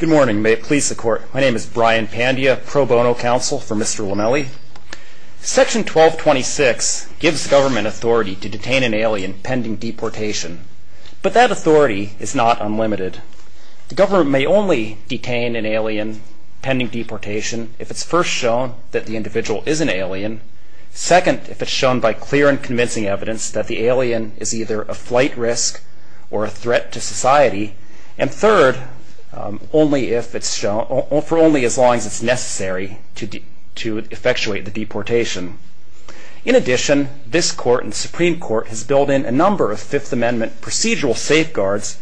Good morning. My name is Brian Pandia, pro bono counsel for Mr. Lomeli. Section 1226 gives government authority to detain an alien pending deportation, but that authority is not unlimited. The government may only detain an alien pending deportation if it's first shown that the individual is an alien, second if it's shown by clear and convincing evidence and third for only as long as it's necessary to effectuate the deportation. In addition, this court and Supreme Court has built in a number of Fifth Amendment procedural safeguards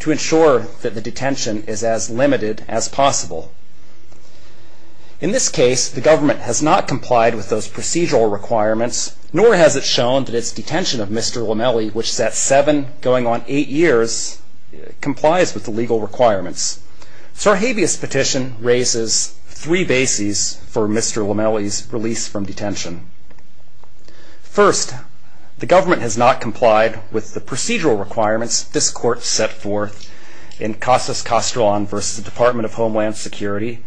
to ensure that the detention is as limited as possible. In this case, the government has not complied with those procedural requirements, nor has it shown that its detention of Mr. Lomeli, which is at seven going on eight years, complies with the legal requirements. Sarhabia's petition raises three bases for Mr. Lomeli's release from detention. First, the government has not complied with the procedural requirements this court set forth in Casas-Castellon versus the Department of Homeland Security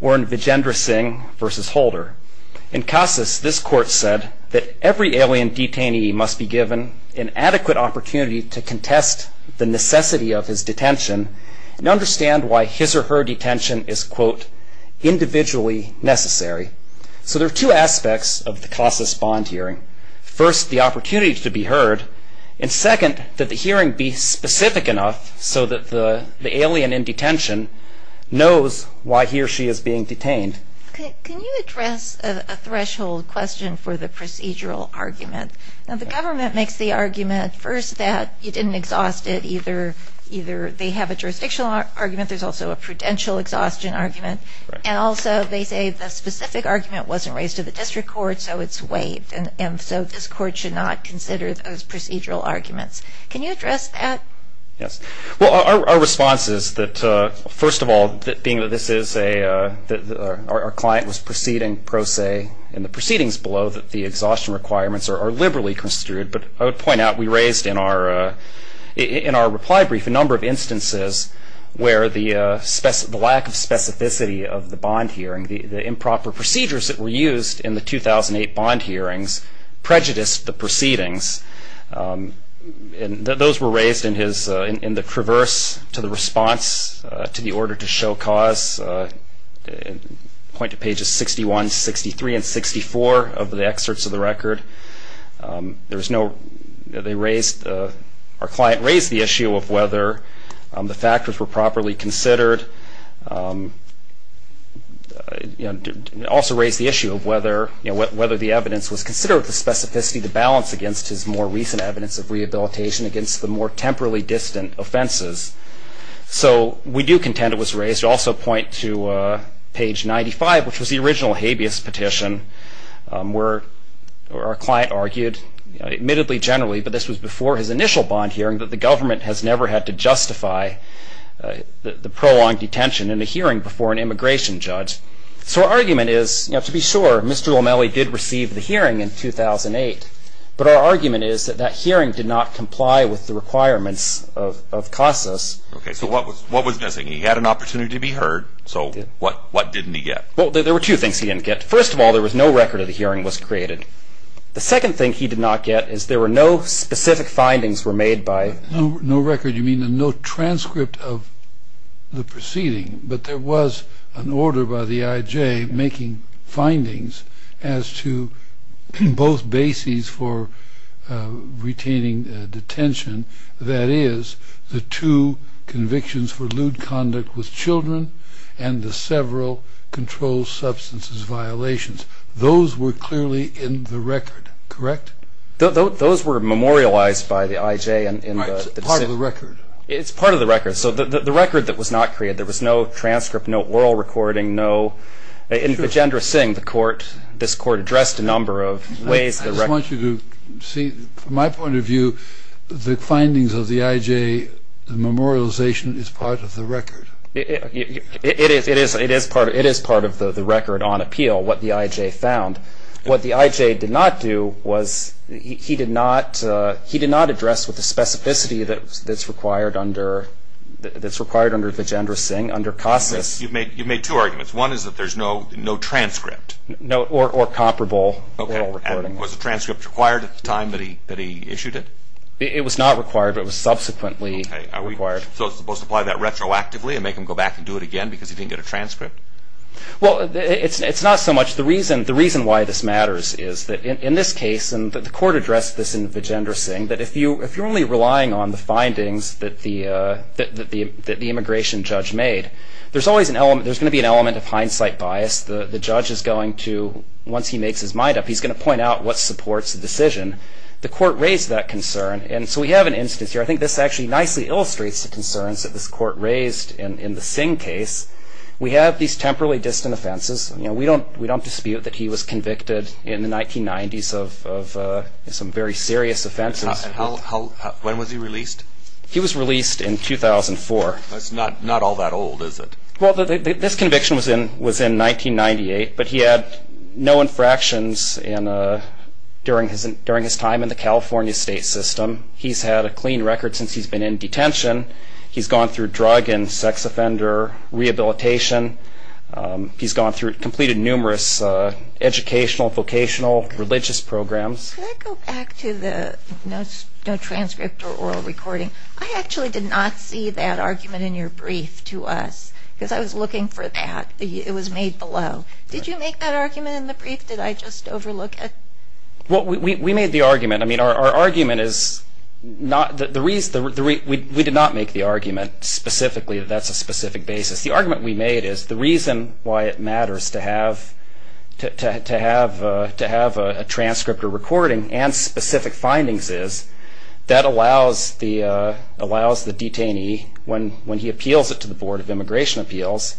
or in Vijendra Singh versus Holder. In Casas, this court said that every alien detainee must be given an adequate opportunity to contest the necessity of his detention and understand why his or her detention is, quote, individually necessary. So there are two aspects of the Casas bond hearing. First, the opportunity to be heard, and second, that the hearing be specific enough so that the alien in detention knows why he or she is being detained. Can you address a threshold question for the procedural argument? Now, the government makes the argument first that you didn't exhaust it, either they have a jurisdictional argument, there's also a prudential exhaustion argument, and also they say the specific argument wasn't raised to the district court, so it's waived, and so this court should not consider those procedural arguments. Can you address that? Yes. Well, our response is that, first of all, being that this is a, our client was proceeding pro se in the proceedings below, that the exhaustion requirements are liberally construed, but I would point out we raised in our reply brief a number of instances where the lack of specificity of the bond hearing, the improper procedures that were used in the 2008 bond hearings, prejudiced the proceedings, and those were raised in his, in the traverse to the response to the order to show cause, point to pages 61, 63, and 64 of the excerpts of the record. There was no, they raised, our client raised the issue of whether the factors were properly considered, and also raised the issue of whether the evidence was considered with the specificity to balance against his more recent evidence of rehabilitation against the more temporally distant offenses. So we do contend it was raised. Also point to page 95, which was the original habeas petition, where our client argued, admittedly generally, but this was before his initial bond hearing, that the government has never had to justify the prolonged detention in a hearing before an immigration judge. So our argument is, to be sure, Mr. O'Malley did receive the hearing in 2008, but our argument is that that hearing did not comply with the requirements of CASAS. Okay, so what was missing? He had an opportunity to be heard, so what didn't he get? Well, there were two things he didn't get. First of all, there was no record of the hearing was created. The second thing he did not get is there were no specific findings were made by... No record, you mean no transcript of the proceeding, but there was an order by the IJ making findings as to both bases for retaining detention, that is, the two convictions for lewd conduct with children and the several controlled substances violations. Those were clearly in the record, correct? Those were memorialized by the IJ in the... Right, part of the record. It's part of the record. So the record that was not created, there was no transcript, no oral recording, no... In Vajendra Singh, the court, this court addressed a number of ways... I just want you to see, from my point of view, the findings of the IJ memorialization is part of the record. It is part of the record on appeal, what the IJ found. What the IJ did not do was he did not address with the specificity that's required under Vajendra Singh, under CASAS. You've made two arguments. One is that there's no transcript. Or comparable oral recording. Was a transcript required at the time that he issued it? It was not required, but it was subsequently required. So it's supposed to apply that retroactively and make him go back and do it again because he didn't get a transcript? Well, it's not so much... The reason why this matters is that in this case, and the court addressed this in Vajendra Singh, that if you're only relying on the findings that the immigration judge made, there's going to be an element of hindsight bias. The judge is going to, once he makes his mind up, he's going to point out what supports the decision. The court raised that concern, and so we have an instance here. I think this actually nicely illustrates the concerns that this court raised in the Singh case. We have these temporally distant offenses. We don't dispute that he was convicted in the 1990s of some very serious offenses. When was he released? He was released in 2004. That's not all that old, is it? Well, this conviction was in 1998, but he had no infractions during his time in the California state system. He's had a clean record since he's been in detention. He's gone through drug and sex offender rehabilitation. He's completed numerous educational, vocational, religious programs. Can I go back to the no transcript or oral recording? I actually did not see that argument in your brief to us because I was looking for that. It was made below. Did you make that argument in the brief that I just overlooked? Well, we made the argument. I mean, our argument is not the reason. We did not make the argument specifically that that's a specific basis. The argument we made is the reason why it matters to have a transcript or recording and specific findings is that allows the detainee, when he appeals it to the Board of Immigration Appeals,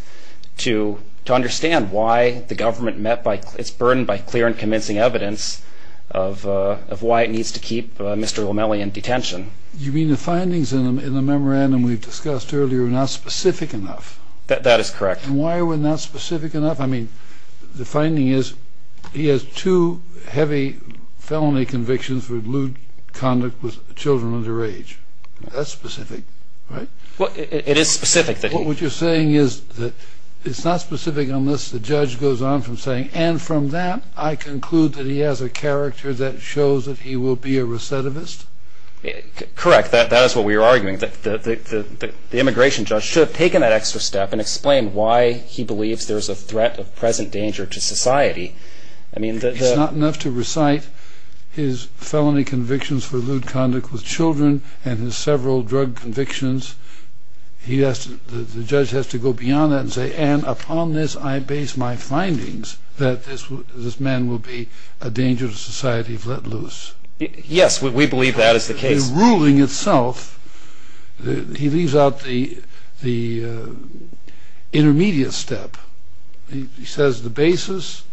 to understand why the government met its burden by clear and convincing evidence of why it needs to keep Mr. O'Malley in detention. You mean the findings in the memorandum we've discussed earlier are not specific enough? That is correct. And why are we not specific enough? I mean, the finding is he has two heavy felony convictions for lewd conduct with children under age. That's specific, right? Well, it is specific. What you're saying is that it's not specific unless the judge goes on from saying, and from that I conclude that he has a character that shows that he will be a recidivist? Correct. That is what we were arguing, that the immigration judge should have taken that extra step and explained why he believes there is a threat of present danger to society. It's not enough to recite his felony convictions for lewd conduct with children and his several drug convictions. The judge has to go beyond that and say, and upon this I base my findings that this man will be a danger to society if let loose. Yes, we believe that is the case. The ruling itself, he leaves out the intermediate step. He says the basis,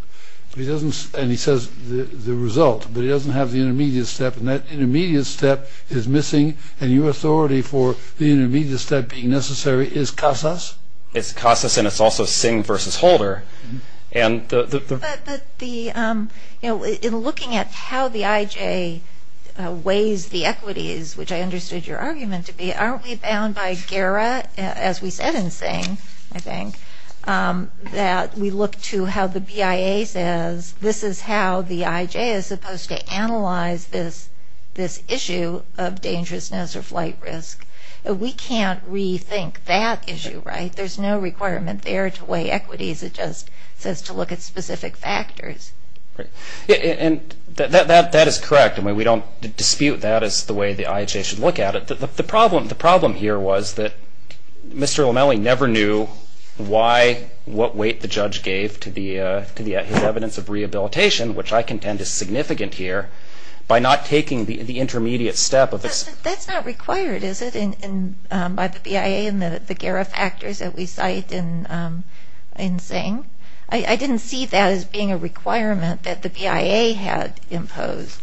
and he says the result, but he doesn't have the intermediate step, and that intermediate step is missing, and your authority for the intermediate step being necessary is CASAS? It's CASAS, and it's also Singh v. Holder. But in looking at how the IJ weighs the equities, which I understood your argument to be, aren't we bound by GERA, as we said in Singh, I think, that we look to how the BIA says this is how the IJ is supposed to analyze this issue of dangerousness or flight risk. We can't rethink that issue, right? There's no requirement there to weigh equities. It just says to look at specific factors. That is correct. We don't dispute that as the way the IJ should look at it. The problem here was that Mr. Lomelli never knew what weight the judge gave to his evidence of rehabilitation, which I contend is significant here, by not taking the intermediate step. That's not required, is it, by the BIA and the GERA factors that we cite in Singh? I didn't see that as being a requirement that the BIA had imposed.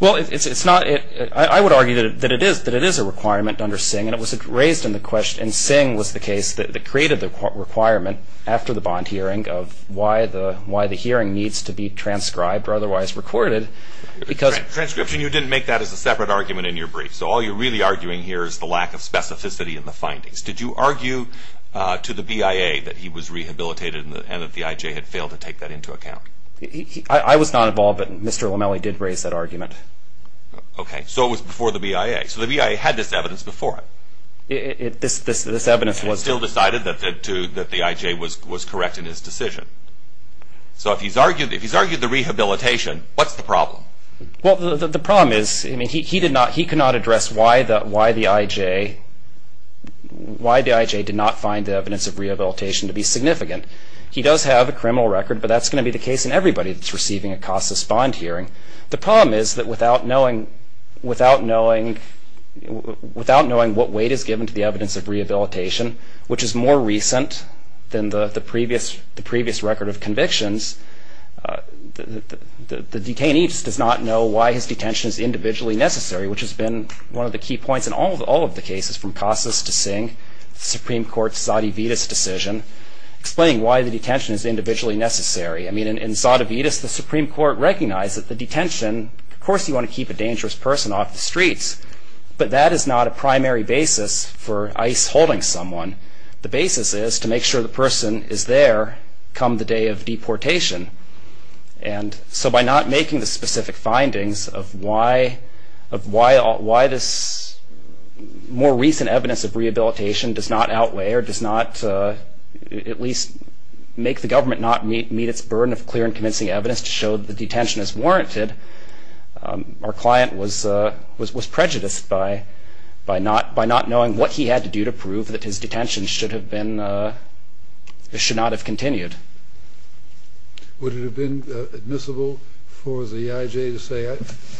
Well, I would argue that it is a requirement under Singh, and it was raised in the question, and Singh was the case that created the requirement after the bond hearing of why the hearing needs to be transcribed or otherwise recorded. Transcription, you didn't make that as a separate argument in your brief, so all you're really arguing here is the lack of specificity in the findings. Did you argue to the BIA that he was rehabilitated and that the IJ had failed to take that into account? I was not involved, but Mr. Lomelli did raise that argument. Okay, so it was before the BIA. So the BIA had this evidence before him. It still decided that the IJ was correct in his decision. So if he's argued the rehabilitation, what's the problem? Well, the problem is he could not address why the IJ did not find the evidence of rehabilitation to be significant. He does have a criminal record, but that's going to be the case in everybody that's receiving a CASAS bond hearing. The problem is that without knowing what weight is given to the evidence of rehabilitation, which is more recent than the previous record of convictions, the detainee just does not know why his detention is individually necessary, which has been one of the key points in all of the cases from CASAS to Singh, the Supreme Court's Zadavidis decision, explaining why the detention is individually necessary. I mean, in Zadavidis, the Supreme Court recognized that the detention, of course you want to keep a dangerous person off the streets, but that is not a primary basis for ICE holding someone. The basis is to make sure the person is there come the day of deportation. And so by not making the specific findings of why this more recent evidence of rehabilitation does not outweigh or does not at least make the government not meet its burden of clear and convincing evidence to show that the detention is warranted, our client was prejudiced by not knowing what he had to do to prove that his detention should not have continued. Would it have been admissible for the EIJ to say,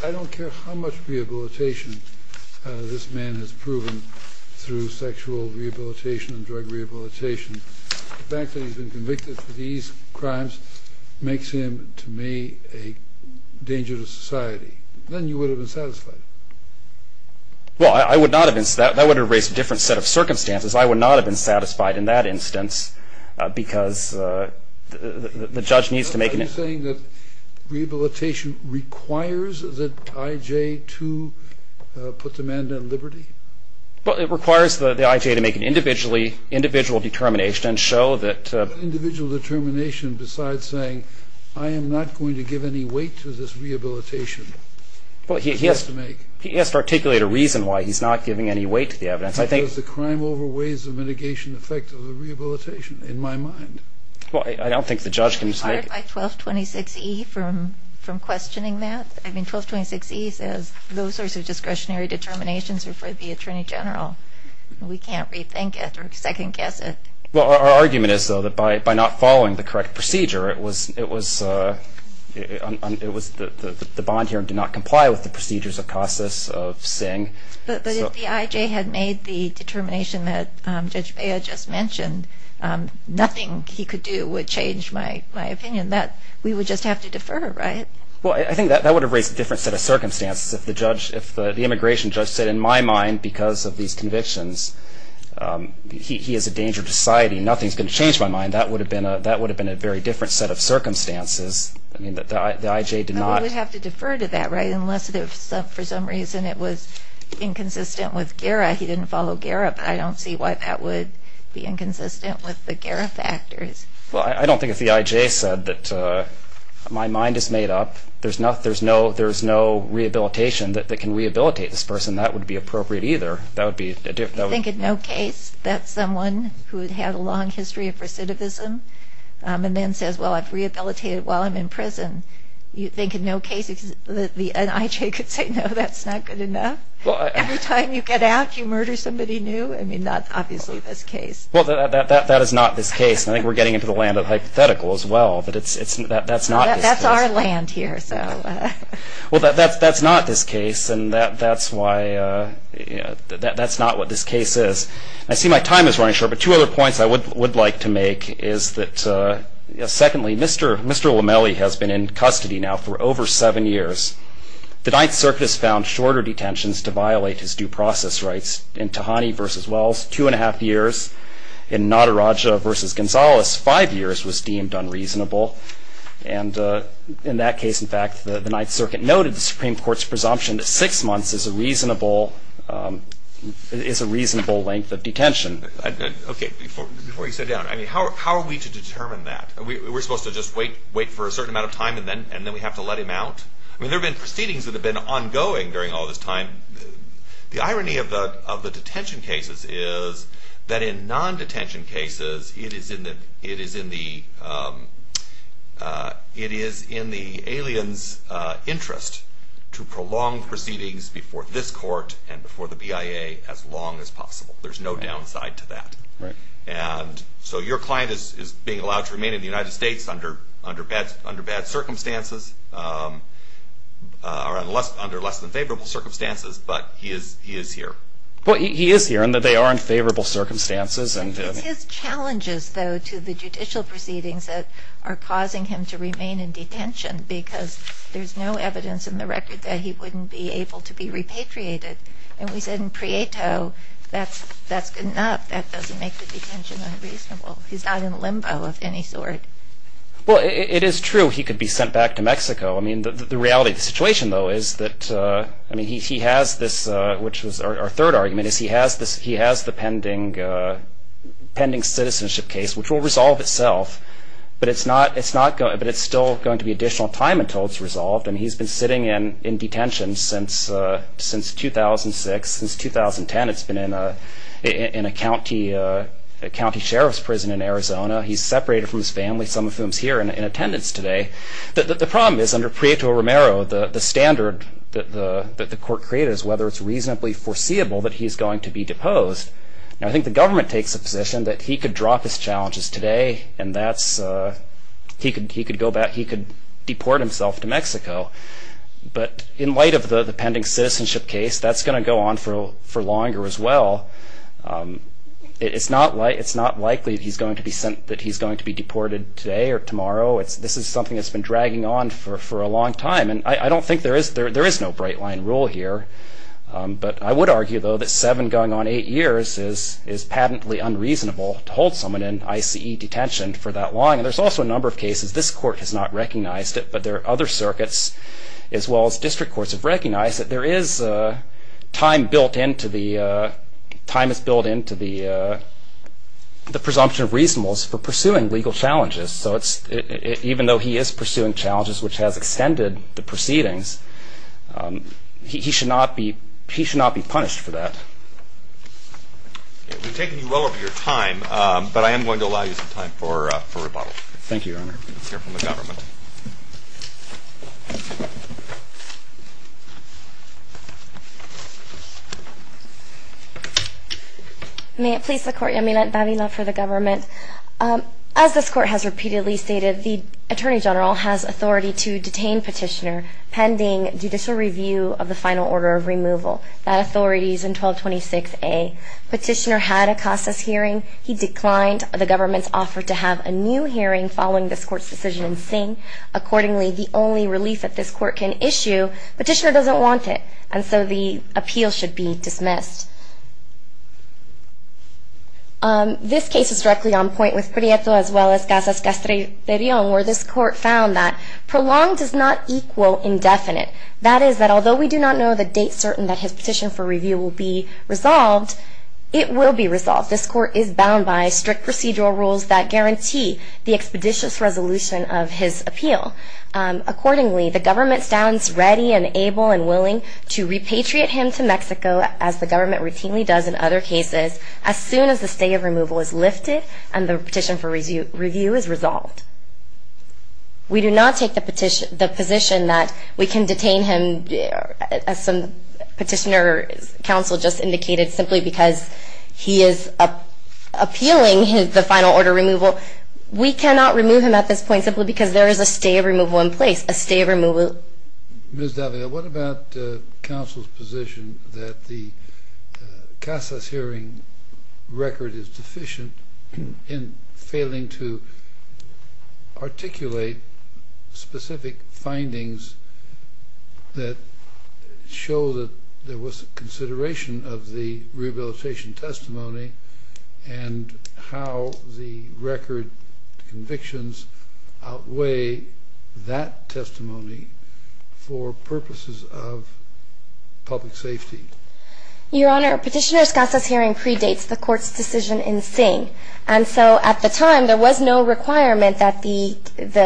I don't care how much rehabilitation this man has proven through sexual rehabilitation and drug rehabilitation, the fact that he's been convicted for these crimes makes him, to me, a danger to society. Then you would have been satisfied. Well, I would not have been satisfied. That would have raised a different set of circumstances. I would not have been satisfied in that instance because the judge needs to make an Are you saying that rehabilitation requires that EIJ to put the man down in liberty? Well, it requires the EIJ to make an individual determination and show that Individual determination besides saying, I am not going to give any weight to this rehabilitation. He has to articulate a reason why he's not giving any weight to the evidence. Does the crime over weighs the mitigation effect of the rehabilitation in my mind? Well, I don't think the judge can decide. Are you tired by 1226E from questioning that? I mean, 1226E says those sorts of discretionary determinations are for the Attorney General. We can't rethink it or second-guess it. Well, our argument is, though, that by not following the correct procedure, it was the bond hearing did not comply with the procedures of CASAS, of SING. But if the EIJ had made the determination that Judge Bea just mentioned, nothing he could do would change my opinion. We would just have to defer, right? Well, I think that would have raised a different set of circumstances. If the immigration judge said, in my mind, because of these convictions, he is a danger to society, nothing is going to change my mind, that would have been a very different set of circumstances. I mean, the EIJ did not We would have to defer to that, right, unless for some reason it was inconsistent with GARA. He didn't follow GARA, but I don't see why that would be inconsistent with the GARA factors. Well, I don't think if the EIJ said that my mind is made up, there's no rehabilitation that can rehabilitate this person, that would be appropriate either. You think in no case that someone who had had a long history of recidivism and then says, well, I've rehabilitated while I'm in prison, you think in no case that the EIJ could say, no, that's not good enough? Every time you get out, you murder somebody new? I mean, that's obviously this case. Well, that is not this case, and I think we're getting into the land of hypotheticals as well. That's our land here. Well, that's not this case, and that's not what this case is. I see my time is running short, but two other points I would like to make is that, secondly, Mr. Lomelli has been in custody now for over seven years. The Ninth Circuit has found shorter detentions to violate his due process rights. In Tahani v. Wells, two and a half years. In Nadaraja v. Gonzales, five years was deemed unreasonable. And in that case, in fact, the Ninth Circuit noted the Supreme Court's presumption that six months is a reasonable length of detention. Okay, before you sit down, I mean, how are we to determine that? Are we supposed to just wait for a certain amount of time and then we have to let him out? I mean, there have been proceedings that have been ongoing during all this time. The irony of the detention cases is that in non-detention cases, it is in the alien's interest to prolong proceedings before this court and before the BIA as long as possible. There's no downside to that. And so your client is being allowed to remain in the United States under bad circumstances, or under less than favorable circumstances, but he is here. Well, he is here in that they are in favorable circumstances. It's his challenges, though, to the judicial proceedings that are causing him to remain in detention because there's no evidence in the record that he wouldn't be able to be repatriated. And we said in Prieto, that's good enough. That doesn't make the detention unreasonable. He's not in limbo of any sort. Well, it is true he could be sent back to Mexico. I mean, the reality of the situation, though, is that he has this, which was our third argument, is he has the pending citizenship case, which will resolve itself, and he's been sitting in detention since 2006. Since 2010, it's been in a county sheriff's prison in Arizona. He's separated from his family, some of whom's here in attendance today. The problem is under Prieto-Romero, the standard that the court created is whether it's reasonably foreseeable that he's going to be deposed. Now, I think the government takes a position that he could drop his challenges today, and he could deport himself to Mexico. But in light of the pending citizenship case, that's going to go on for longer as well. It's not likely that he's going to be deported today or tomorrow. This is something that's been dragging on for a long time, and I don't think there is no bright-line rule here. But I would argue, though, that seven going on eight years is patently unreasonable to hold someone in ICE detention for that long. And there's also a number of cases this court has not recognized it, but there are other circuits as well as district courts have recognized it. There is time built into the presumption of reasonableness for pursuing legal challenges. So even though he is pursuing challenges which has extended the proceedings, he should not be punished for that. We've taken you well over your time, but I am going to allow you some time for rebuttal. Thank you, Your Honor. Let's hear from the government. May it please the Court. Yamila Babila for the government. As this Court has repeatedly stated, the Attorney General has authority to detain Petitioner pending judicial review of the final order of removal. That authority is in 1226A. Petitioner had a CASAS hearing. He declined. The government's offered to have a new hearing following this Court's decision in Singh. Accordingly, the only relief that this Court can issue, Petitioner doesn't want it, and so the appeal should be dismissed. This case is directly on point with Prieto as well as CASAS-Castrillon, where this Court found that prolonged does not equal indefinite. That is, that although we do not know the date certain that his petition for review will be resolved, it will be resolved. This Court is bound by strict procedural rules that guarantee the expeditious resolution of his appeal. Accordingly, the government stands ready and able and willing to repatriate him to Mexico, as the government routinely does in other cases, as soon as the stay of removal is lifted and the petition for review is resolved. We do not take the position that we can detain him, as Petitioner's counsel just indicated, simply because he is appealing the final order of removal. We cannot remove him at this point simply because there is a stay of removal in place, a stay of removal. Ms. Davila, what about counsel's position that the CASAS hearing record is deficient in failing to articulate specific findings that show that there was consideration of the rehabilitation testimony and how the record convictions outweigh that testimony for purposes of public safety? Your Honor, Petitioner's CASAS hearing predates the Court's decision in Singh. And so at the time, there was no requirement that the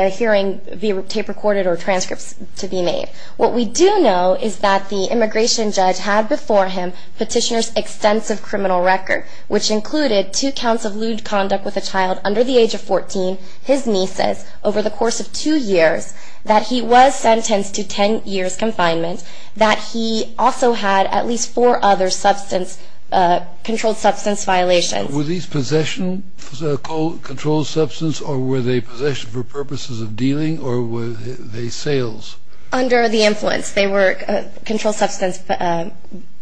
hearing be tape-recorded or transcripts to be made. What we do know is that the immigration judge had before him Petitioner's extensive criminal record, which included two counts of lewd conduct with a child under the age of 14, his nieces, over the course of two years, that he was sentenced to 10 years confinement, that he also had at least four other substance, controlled substance violations. Were these possession, controlled substance, or were they possession for purposes of dealing, or were they sales? Under the influence. They were controlled substance.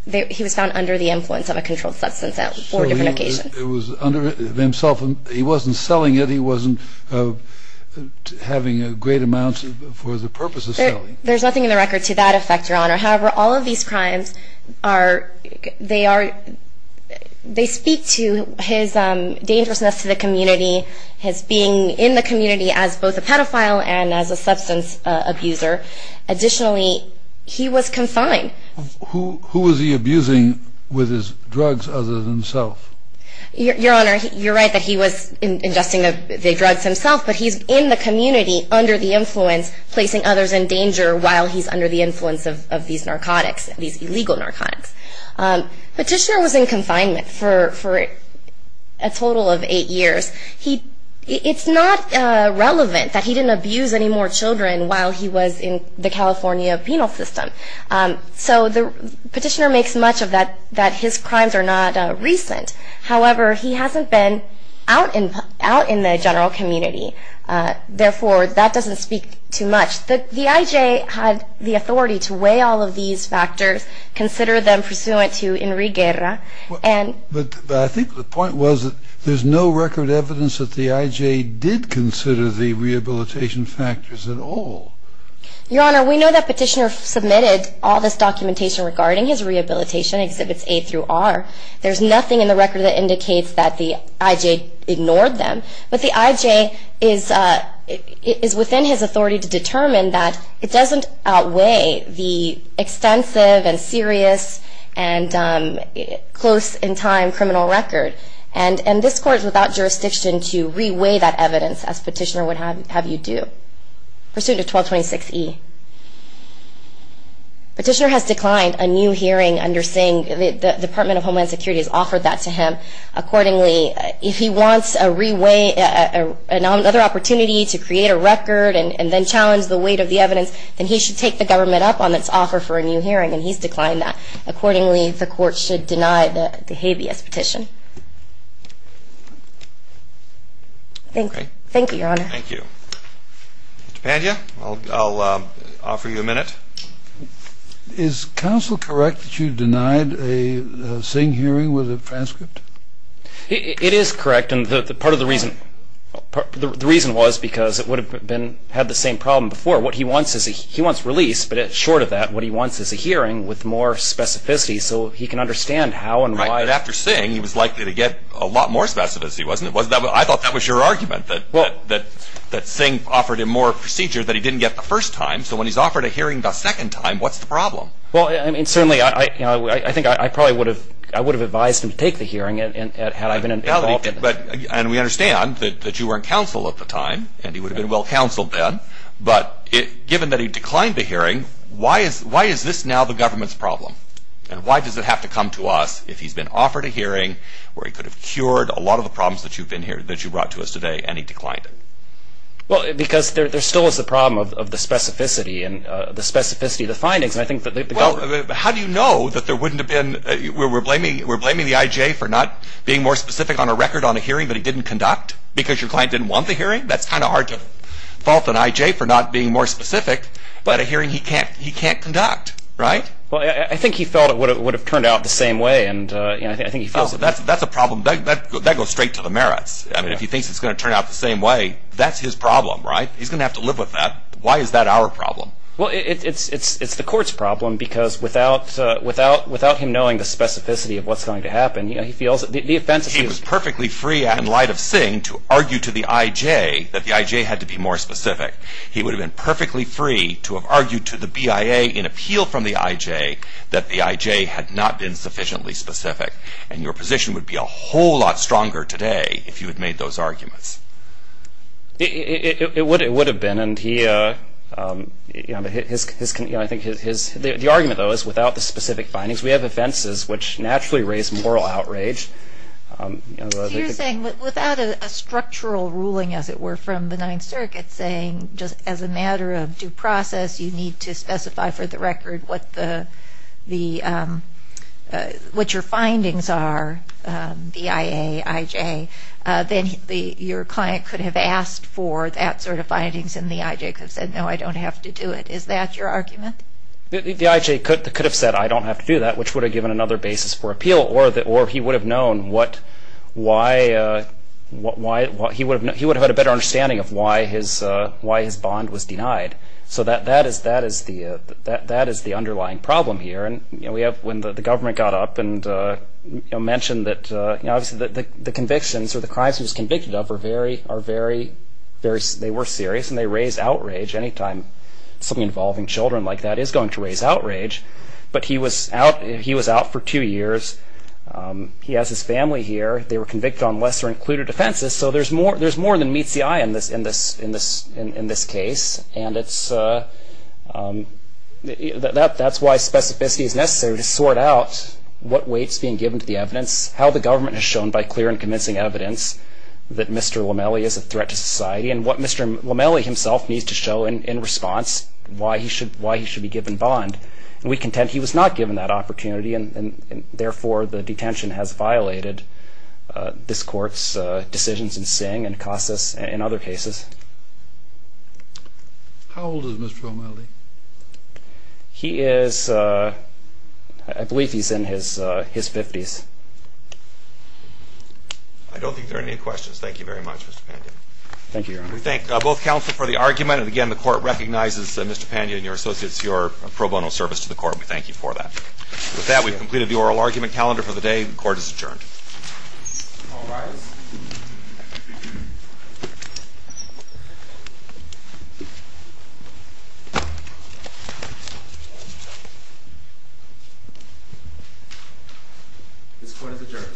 He was found under the influence of a controlled substance on four different occasions. It was under himself. He wasn't selling it. He wasn't having a great amount for the purpose of selling. There's nothing in the record to that effect, Your Honor. However, all of these crimes are, they are, they speak to his dangerousness to the community, his being in the community as both a pedophile and as a substance abuser. Additionally, he was confined. Who was he abusing with his drugs other than himself? Your Honor, you're right that he was ingesting the drugs himself, but he's in the community under the influence, placing others in danger while he's under the influence of these narcotics, these illegal narcotics. Petitioner was in confinement for a total of eight years. He, it's not relevant that he didn't abuse any more children while he was in the California penal system. So the petitioner makes much of that, that his crimes are not recent. However, he hasn't been out in the general community. Therefore, that doesn't speak too much. The IJ had the authority to weigh all of these factors, consider them pursuant to Enrique Guerra. But I think the point was that there's no record evidence that the IJ did consider the rehabilitation factors at all. Your Honor, we know that petitioner submitted all this documentation regarding his rehabilitation, Exhibits A through R. There's nothing in the record that indicates that the IJ ignored them. But the IJ is within his authority to determine that it doesn't outweigh the extensive and serious and close in time criminal record. And this court is without jurisdiction to re-weigh that evidence as petitioner would have you do. Pursuant to 1226E. Petitioner has declined a new hearing under saying the Department of Homeland Security has offered that to him. Accordingly, if he wants another opportunity to create a record and then challenge the weight of the evidence, then he should take the government up on its offer for a new hearing. And he's declined that. Accordingly, the court should deny the habeas petition. Thank you, Your Honor. Thank you. Mr. Pandya, I'll offer you a minute. Is counsel correct that you denied a Singh hearing with a transcript? It is correct. And part of the reason was because it would have had the same problem before. What he wants is a release. But short of that, what he wants is a hearing with more specificity so he can understand how and why. Right. But after Singh, he was likely to get a lot more specificity, wasn't he? I thought that was your argument, that Singh offered him more procedure that he didn't get the first time. So when he's offered a hearing the second time, what's the problem? Well, certainly, I think I probably would have advised him to take the hearing had I been involved. And we understand that you were in counsel at the time, and he would have been well counseled then. But given that he declined the hearing, why is this now the government's problem? And why does it have to come to us if he's been offered a hearing where he could have cured a lot of the problems that you brought to us today and he declined it? Well, because there still is the problem of the specificity and the specificity of the findings. And I think that the government – Well, how do you know that there wouldn't have been – we're blaming the I.J. for not being more specific on a record on a hearing that he didn't conduct? Because your client didn't want the hearing? That's kind of hard to fault an I.J. for not being more specific about a hearing he can't conduct, right? Well, I think he felt it would have turned out the same way, and I think he feels – Oh, that's a problem – that goes straight to the merits. I mean, if he thinks it's going to turn out the same way, that's his problem, right? He's going to have to live with that. Why is that our problem? Well, it's the court's problem because without him knowing the specificity of what's going to happen, he feels the offense is – He was perfectly free in light of Singh to argue to the I.J. that the I.J. had to be more specific. He would have been perfectly free to have argued to the BIA in appeal from the I.J. that the I.J. had not been sufficiently specific. And your position would be a whole lot stronger today if you had made those arguments. It would have been, and he – I think his – the argument, though, is without the specific findings, we have offenses which naturally raise moral outrage. So you're saying without a structural ruling, as it were, from the Ninth Circuit saying just as a matter of due process, you need to specify for the record what the – what your findings are, the I.A., I.J., then your client could have asked for that sort of findings and the I.J. could have said, no, I don't have to do it. Is that your argument? The I.J. could have said, I don't have to do that, which would have given another basis for appeal, or he would have known what – why – he would have had a better understanding of why his bond was denied. So that is the underlying problem here. And we have – when the government got up and mentioned that the convictions or the crimes he was convicted of are very – they were serious and they raise outrage anytime something involving children like that is going to raise outrage. But he was out – he was out for two years. He has his family here. They were convicted on lesser-included offenses. So there's more than meets the eye in this case. And it's – that's why specificity is necessary to sort out what weight is being given to the evidence, how the government has shown by clear and convincing evidence that Mr. Lomeli is a threat to society, and what Mr. Lomeli himself needs to show in response why he should be given bond. And we contend he was not given that opportunity, and therefore the detention has violated this Court's decisions in Singh and Casas and other cases. How old is Mr. Lomeli? He is – I believe he's in his 50s. I don't think there are any questions. Thank you very much, Mr. Pandya. Thank you, Your Honor. We thank both counsel for the argument. And, again, the Court recognizes Mr. Pandya and your associates, your pro bono service to the Court. We thank you for that. With that, we've completed the oral argument calendar for the day. The Court is adjourned. All rise. This Court is adjourned. The Court is adjourned.